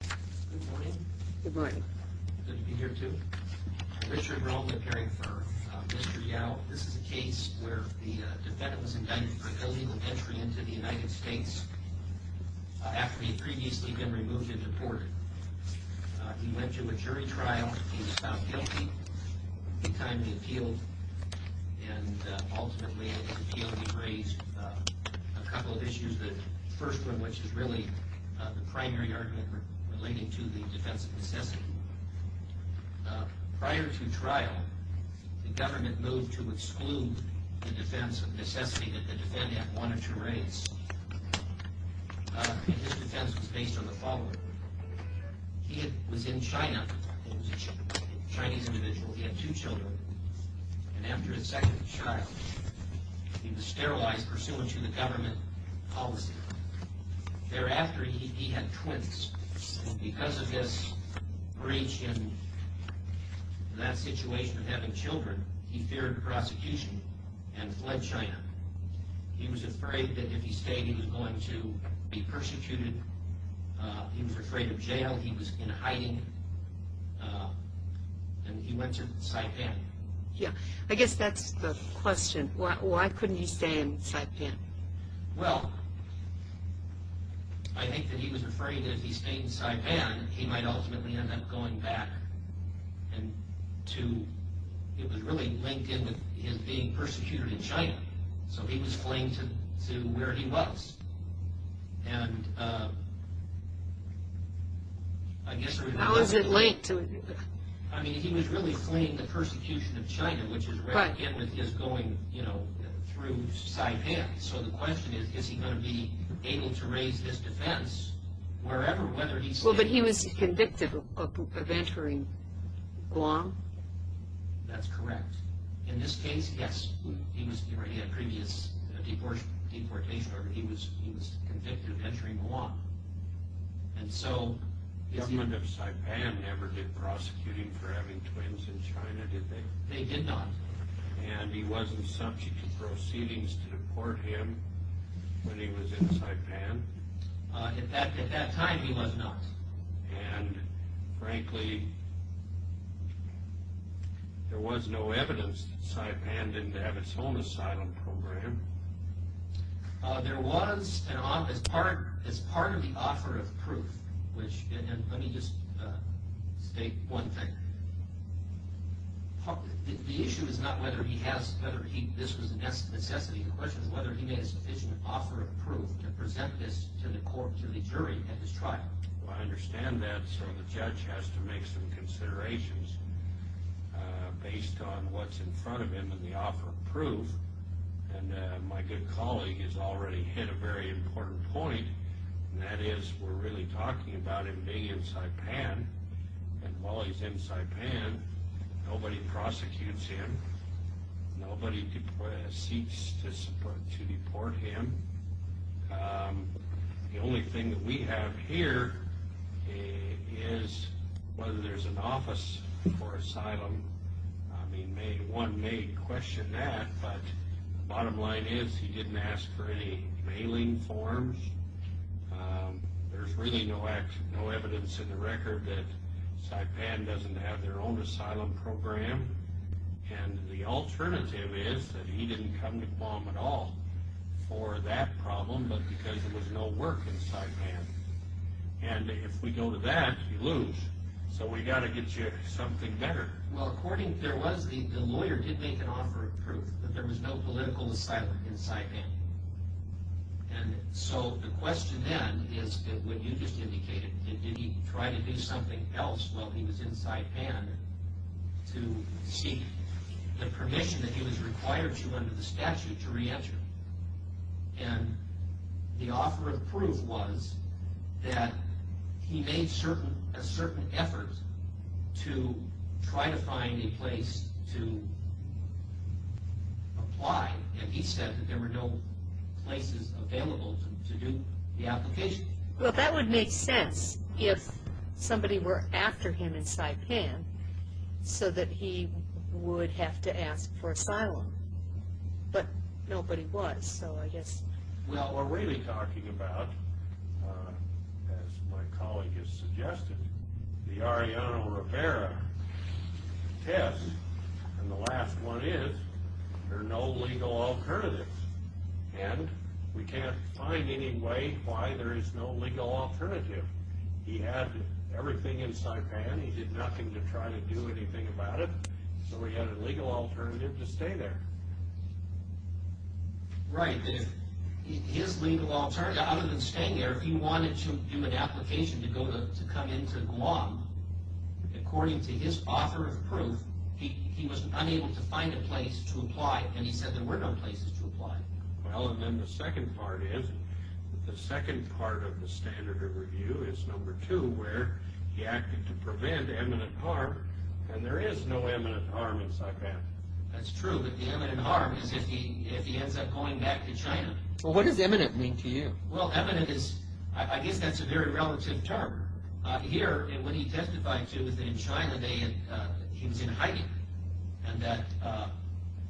Good morning. Good morning. Good to be here too. Richard Roman caring for Mr. Yao. This is a case where the defendant was indicted for illegal entry into the United States after he had previously been removed and deported. He went to a jury trial. He was found guilty. In time he appealed and ultimately in his appeal he raised a couple of issues. The first one which is really the primary argument relating to the defense of necessity. Prior to trial the government moved to exclude the defense of necessity that the defendant wanted to raise. His defense was based on the following. He was in China. He was a Chinese individual. He had two children. And after his second child he was sterilized pursuant to the government policy. Thereafter he had twins. Because of this breach and that situation of having children he feared prosecution and fled China. He was afraid that if he stayed he was going to be persecuted. He was afraid of jail. He was in hiding. He went to Saipan. I guess that's the question. Why couldn't he stay in Saipan? Well, I think that he was afraid that if he stayed in Saipan he might ultimately end up going back. It was really linked in with him being persecuted in China. So he was flinged to where he was. He was convicted of entering Guam. That's correct. In this case, yes, he had previous deportation. He was convicted of entering Guam. The government of Saipan never did prosecute him for having twins in China, did they? They did not. And he wasn't subject to proceedings to deport him when he was in Saipan? At that time he was not. Frankly, there was no evidence that Saipan didn't have its own asylum program. There was as part of the offer of proof. Let me just state one thing. The issue is not whether this was a necessity. The question is whether he made a sufficient offer of proof to present this to the jury at his trial. Well, I understand that. So the judge has to make some considerations based on what's in front of him in the offer of proof. And my good colleague has already hit a very important point, and that is we're really talking about him being in Saipan. And while he's in Saipan, nobody prosecutes him. Nobody seeks to deport him. The only thing that we have here is whether there's an office for asylum. I mean, one may question that, but the bottom line is he didn't ask for any mailing forms. There's really no evidence in the record that Saipan doesn't have their own asylum program. And the alternative is that he didn't come to Guam at all for that problem, but because there was no work in Saipan. And if we go to that, you lose. So we've got to get you something better. Well, according – there was – the lawyer did make an offer of proof that there was no political asylum in Saipan. And so the question then is that what you just indicated, did he try to do something else while he was in Saipan to seek the permission that he was required to under the statute to re-enter? And the offer of proof was that he made a certain effort to try to find a place to apply. And he said that there were no places available to do the application. Well, that would make sense if somebody were after him in Saipan so that he would have to ask for asylum. But nobody was, so I guess – Well, we're really talking about, as my colleague has suggested, the Arellano Rivera test. And the last one is there are no legal alternatives. And we can't find any way why there is no legal alternative. He had everything in Saipan. He did nothing to try to do anything about it. So he had a legal alternative to stay there. Right. His legal alternative, other than staying there, he wanted to do an application to come into Guam. According to his offer of proof, he was unable to find a place to apply. And he said there were no places to apply. Well, and then the second part is, the second part of the standard of review is number two, where he acted to prevent eminent harm, and there is no eminent harm in Saipan. That's true, but the eminent harm is if he ends up going back to China. Well, what does eminent mean to you? Well, eminent is – I guess that's a very relative term. Here, what he testified to is that in China, he was in hiding, and that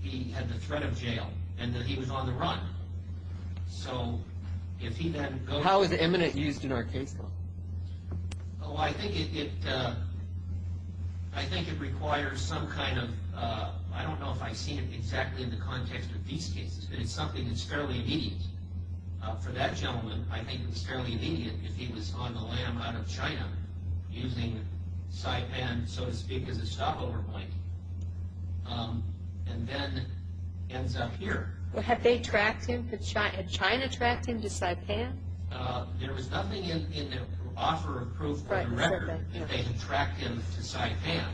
he had the threat of jail, and that he was on the run. So if he then goes – So how is eminent used in our case, though? Oh, I think it requires some kind of – I don't know if I've seen it exactly in the context of these cases, but it's something that's fairly immediate. For that gentleman, I think it's fairly immediate if he was on the lam out of China, using Saipan, so to speak, as a stopover point, and then ends up here. Well, had they tracked him – had China tracked him to Saipan? There was nothing in their offer of proof for the record that they had tracked him to Saipan.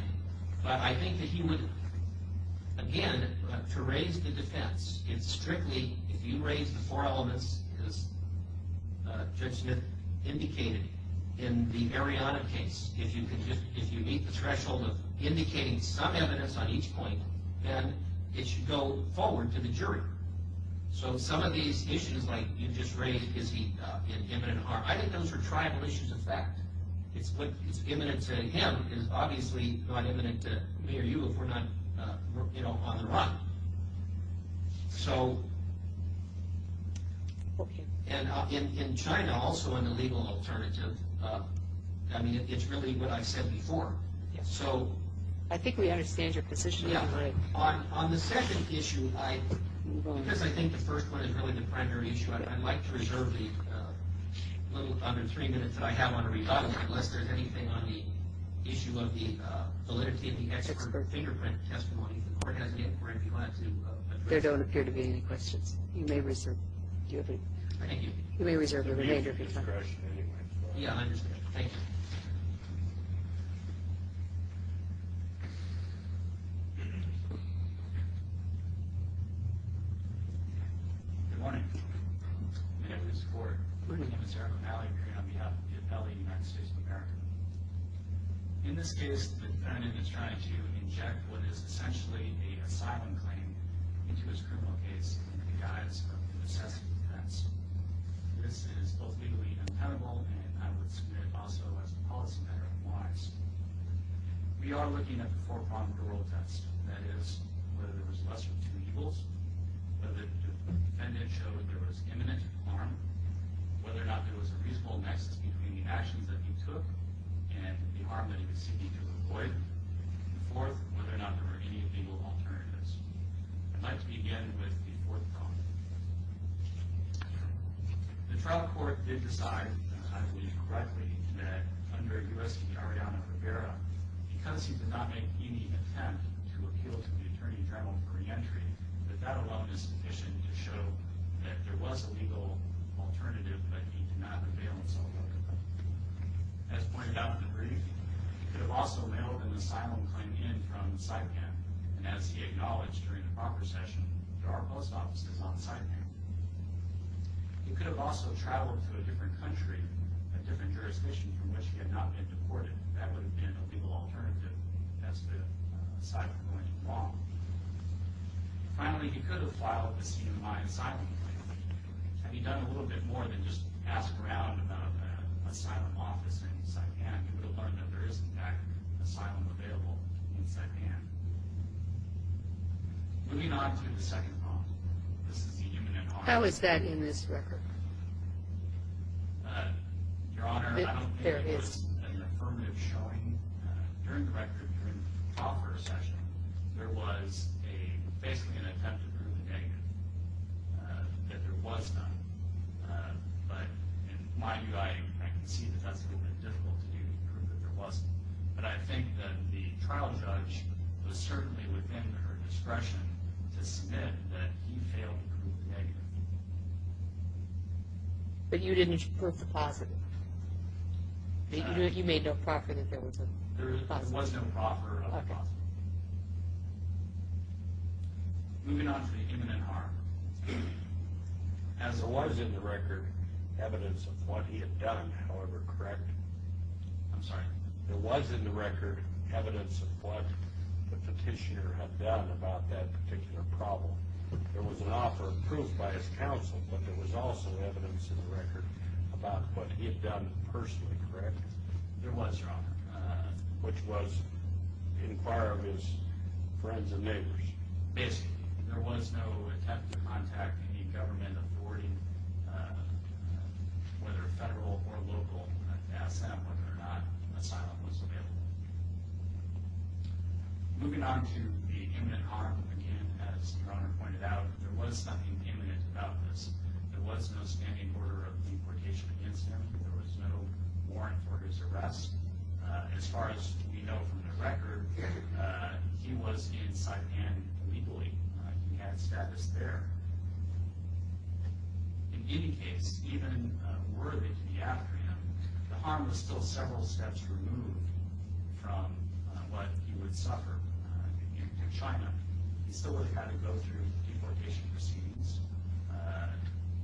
But I think that he would – again, to raise the defense, it's strictly – if you raise the four elements, as Judge Smith indicated, in the Mariana case, if you meet the threshold of indicating some evidence on each point, then it should go forward to the jury. So some of these issues, like you just raised, is he in imminent harm? I think those are tribal issues of fact. It's what is imminent to him is obviously not imminent to me or you if we're not on the run. So – and in China, also in the legal alternative, I mean, it's really what I've said before. So – I think we understand your position. Yeah. On the second issue, I – because I think the first one is really the primary issue, I'd like to reserve the little under three minutes that I have on the rebuttal, unless there's anything on the issue of the validity of the expert fingerprint testimony. There don't appear to be any questions. You may reserve. Thank you. You may reserve the remainder if you'd like. Yeah, I understand. Thank you. Good morning. Good morning. Good morning. My name is Eric O'Malley. I'm here on behalf of the Affiliate of the United States of America. In this case, the defendant is trying to inject what is essentially an asylum claim into his criminal case in the guise of excessive defense. This is both legally impenetrable, and I would submit also as a policy matter, wise. We are looking at the four-pronged parole test, that is, whether there was less than two evils, whether the defendant showed there was imminent harm, whether or not there was a reasonable nexus between the actions that he took and the harm that he was seeking to avoid, and fourth, whether or not there were any legal alternatives. I'd like to begin with the fourth prong. The trial court did decide, I believe correctly, that under U.S. Attorney Ariana Rivera, because he did not make any attempt to appeal to the Attorney General for reentry, that that alone is sufficient to show that there was a legal alternative, but he did not avail himself of it. As pointed out in the brief, he could have also mailed an asylum claim in from Saipan, and as he acknowledged during the proper session, there are post offices on Saipan. He could have also traveled to a different country, a different jurisdiction from which he had not been deported. That would have been a legal alternative as to asylum going to Guam. Finally, he could have filed a CMI asylum claim. Had he done a little bit more than just ask around about an asylum office in Saipan, he would have learned that there is, in fact, an asylum available in Saipan. Moving on to the second prong. This is the imminent harm. How is that in this record? Your Honor, I don't think it was an affirmative showing. During the record, during the proper session, there was basically an attempt to prove the negative, that there was none. But in my view, I can see that that's a little bit difficult to do to prove that there wasn't. But I think that the trial judge was certainly within her discretion to submit that he failed to prove the negative. But you didn't prove the positive. You made no proffer that there was a positive. There was no proffer of a positive. Moving on to the imminent harm. As there was in the record evidence of what he had done, however correct. I'm sorry. There was in the record evidence of what the petitioner had done about that particular problem. There was an offer of proof by his counsel, but there was also evidence in the record about what he had done personally, correct? There was, Your Honor. Which was inquire of his friends and neighbors. Basically. There was no attempt to contact any government authority, whether federal or local, to ask that whether or not an asylum was available. Moving on to the imminent harm, again, as Your Honor pointed out, there was something imminent about this. There was no standing order of deportation against him. There was no warrant for his arrest. As far as we know from the record, he was in Saipan illegally. He had status there. In any case, even worthy to be after him, the harm was still several steps removed. From what he would suffer in China. He still would have had to go through deportation proceedings.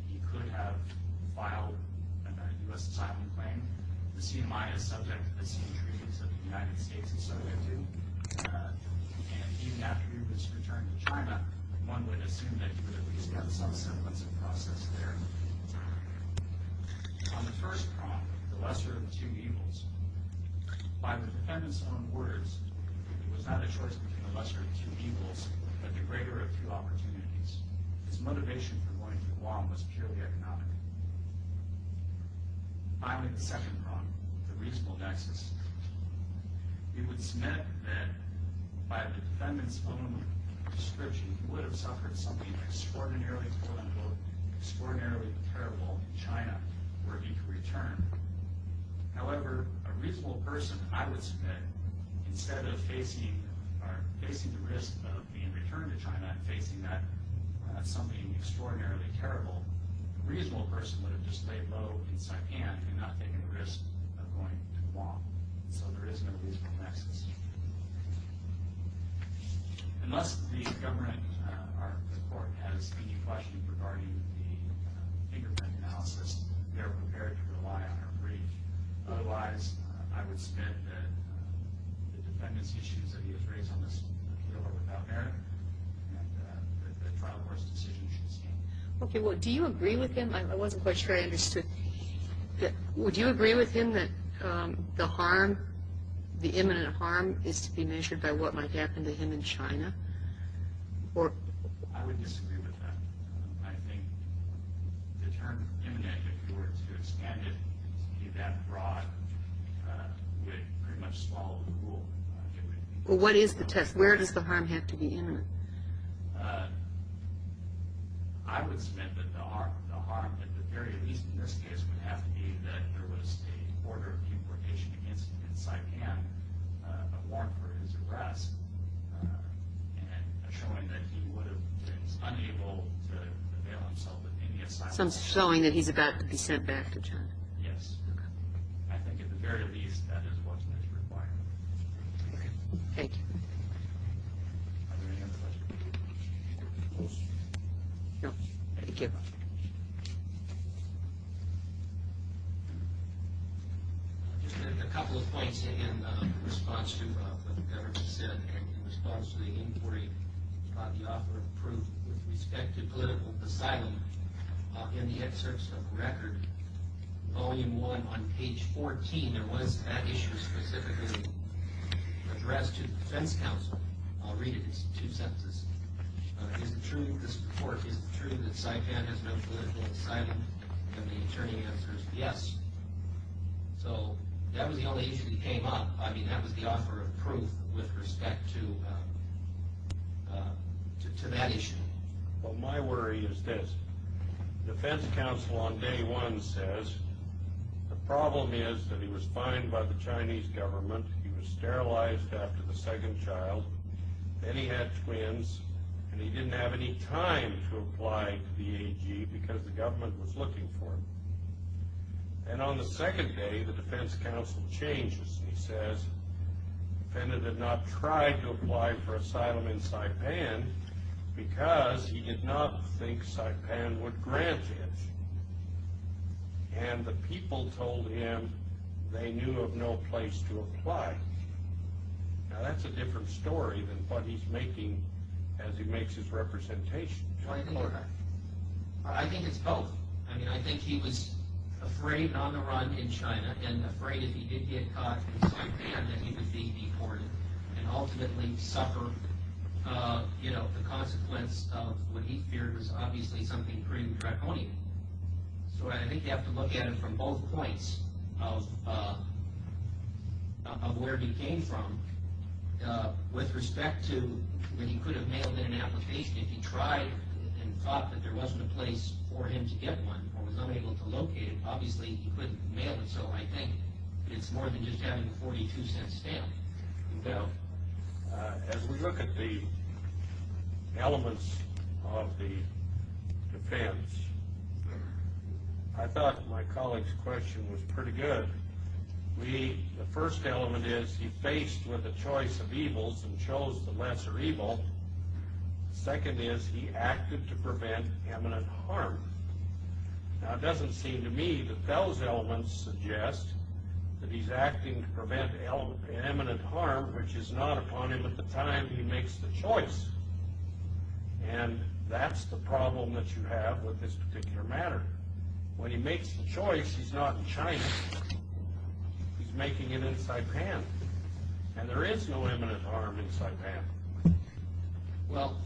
He could have filed a U.S. asylum claim. The CMI is subject to the same treaties that the United States and Soviet do. And even after he was returned to China, one would assume that he would at least have some semblance of process there. On the first prong, the lesser of two evils. By the defendant's own words, it was not a choice between the lesser of two evils, but the greater of two opportunities. His motivation for going to Guam was purely economic. Finally, the second prong, the reasonable nexus. It was meant that by the defendant's own description, he would have suffered something extraordinarily, quote-unquote, extraordinarily terrible in China, where he could return. However, a reasonable person, I would submit, instead of facing the risk of being returned to China and facing something extraordinarily terrible, a reasonable person would have just stayed low in Saipan and not taken the risk of going to Guam. So there is no reasonable nexus. Unless the government or the court has any questions regarding the fingerprint analysis, they are prepared to rely on our brief. Otherwise, I would submit that the defendants' issues that he has raised on this appeal are without error and that the trial court's decision should stand. Okay, well, do you agree with him? I wasn't quite sure I understood. Would you agree with him that the harm, the imminent harm, is to be measured by what might happen to him in China? I would disagree with that. I think the term imminent, if you were to expand it to be that broad, would pretty much swallow the rule. Well, what is the test? Where does the harm have to be imminent? I would submit that the harm, at the very least in this case, would have to be that there was an order of deportation against him in Saipan, a warrant for his arrest, and showing that he would have been unable to avail himself of any asylum. So I'm showing that he's about to be sent back to China. Yes. I think, at the very least, that is what is required. Thank you. Are there any other questions? No. Thank you. Just a couple of points in response to what the government said and in response to the inquiry about the offer of proof with respect to political asylum. In the excerpts of the record, Volume 1 on page 14, there was that issue specifically addressed to the defense counsel. I'll read it. It's two sentences. Is it true that Saipan has no political asylum? And the attorney answers, yes. So that was the only issue that came up. I mean, that was the offer of proof with respect to that issue. Well, my worry is this. The defense counsel on day one says, the problem is that he was fined by the Chinese government, he was sterilized after the second child, then he had twins, and he didn't have any time to apply to the AG because the government was looking for him. And on the second day, the defense counsel changes. Because he did not think Saipan would grant it. And the people told him they knew of no place to apply. Now, that's a different story than what he's making as he makes his representation. I think it's both. I mean, I think he was afraid and on the run in China and afraid if he did get caught in Saipan that he would be deported and ultimately suffer the consequence of what he feared was obviously something pretty draconian. So I think you have to look at it from both points of where he came from. With respect to that he could have mailed in an application if he tried and thought that there wasn't a place for him to get one or was unable to locate it, obviously he couldn't mail it. So I think it's more than just having a $0.42 stamp. As we look at the elements of the defense, I thought my colleague's question was pretty good. The first element is he faced with a choice of evils and chose the lesser evil. Second is he acted to prevent imminent harm. Now it doesn't seem to me that those elements suggest that he's acting to prevent imminent harm which is not upon him at the time he makes the choice. And that's the problem that you have with this particular matter. When he makes the choice, he's not in China. He's making it in Saipan. And there is no imminent harm in Saipan. Well,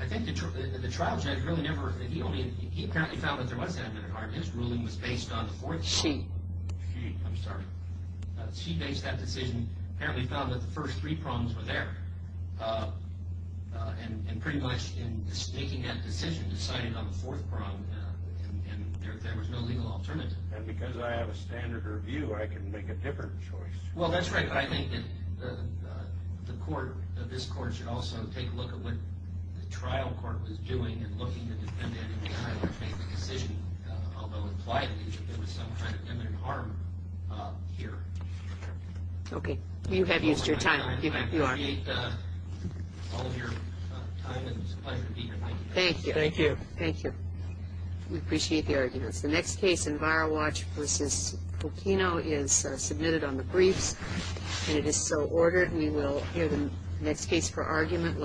I think the trial judge really never, he apparently found that there was imminent harm. His ruling was based on the fourth. She. She, I'm sorry. She based that decision, apparently found that the first three problems were there. And pretty much in making that decision decided on the fourth problem and there was no legal alternative. And because I have a standard review I can make a different choice. Well, that's right. I think that the court, this court should also take a look at what the trial court was doing in looking at the defendant in the eye when making the decision, although implied that there was some kind of imminent harm here. Okay. You have used your time. You are. I appreciate all of your time and it was a pleasure to be here. Thank you. Thank you. Thank you. We appreciate the arguments. The next case in Viral Watch v. Fulcino is submitted on the briefs and it is so ordered. We will hear the next case for argument.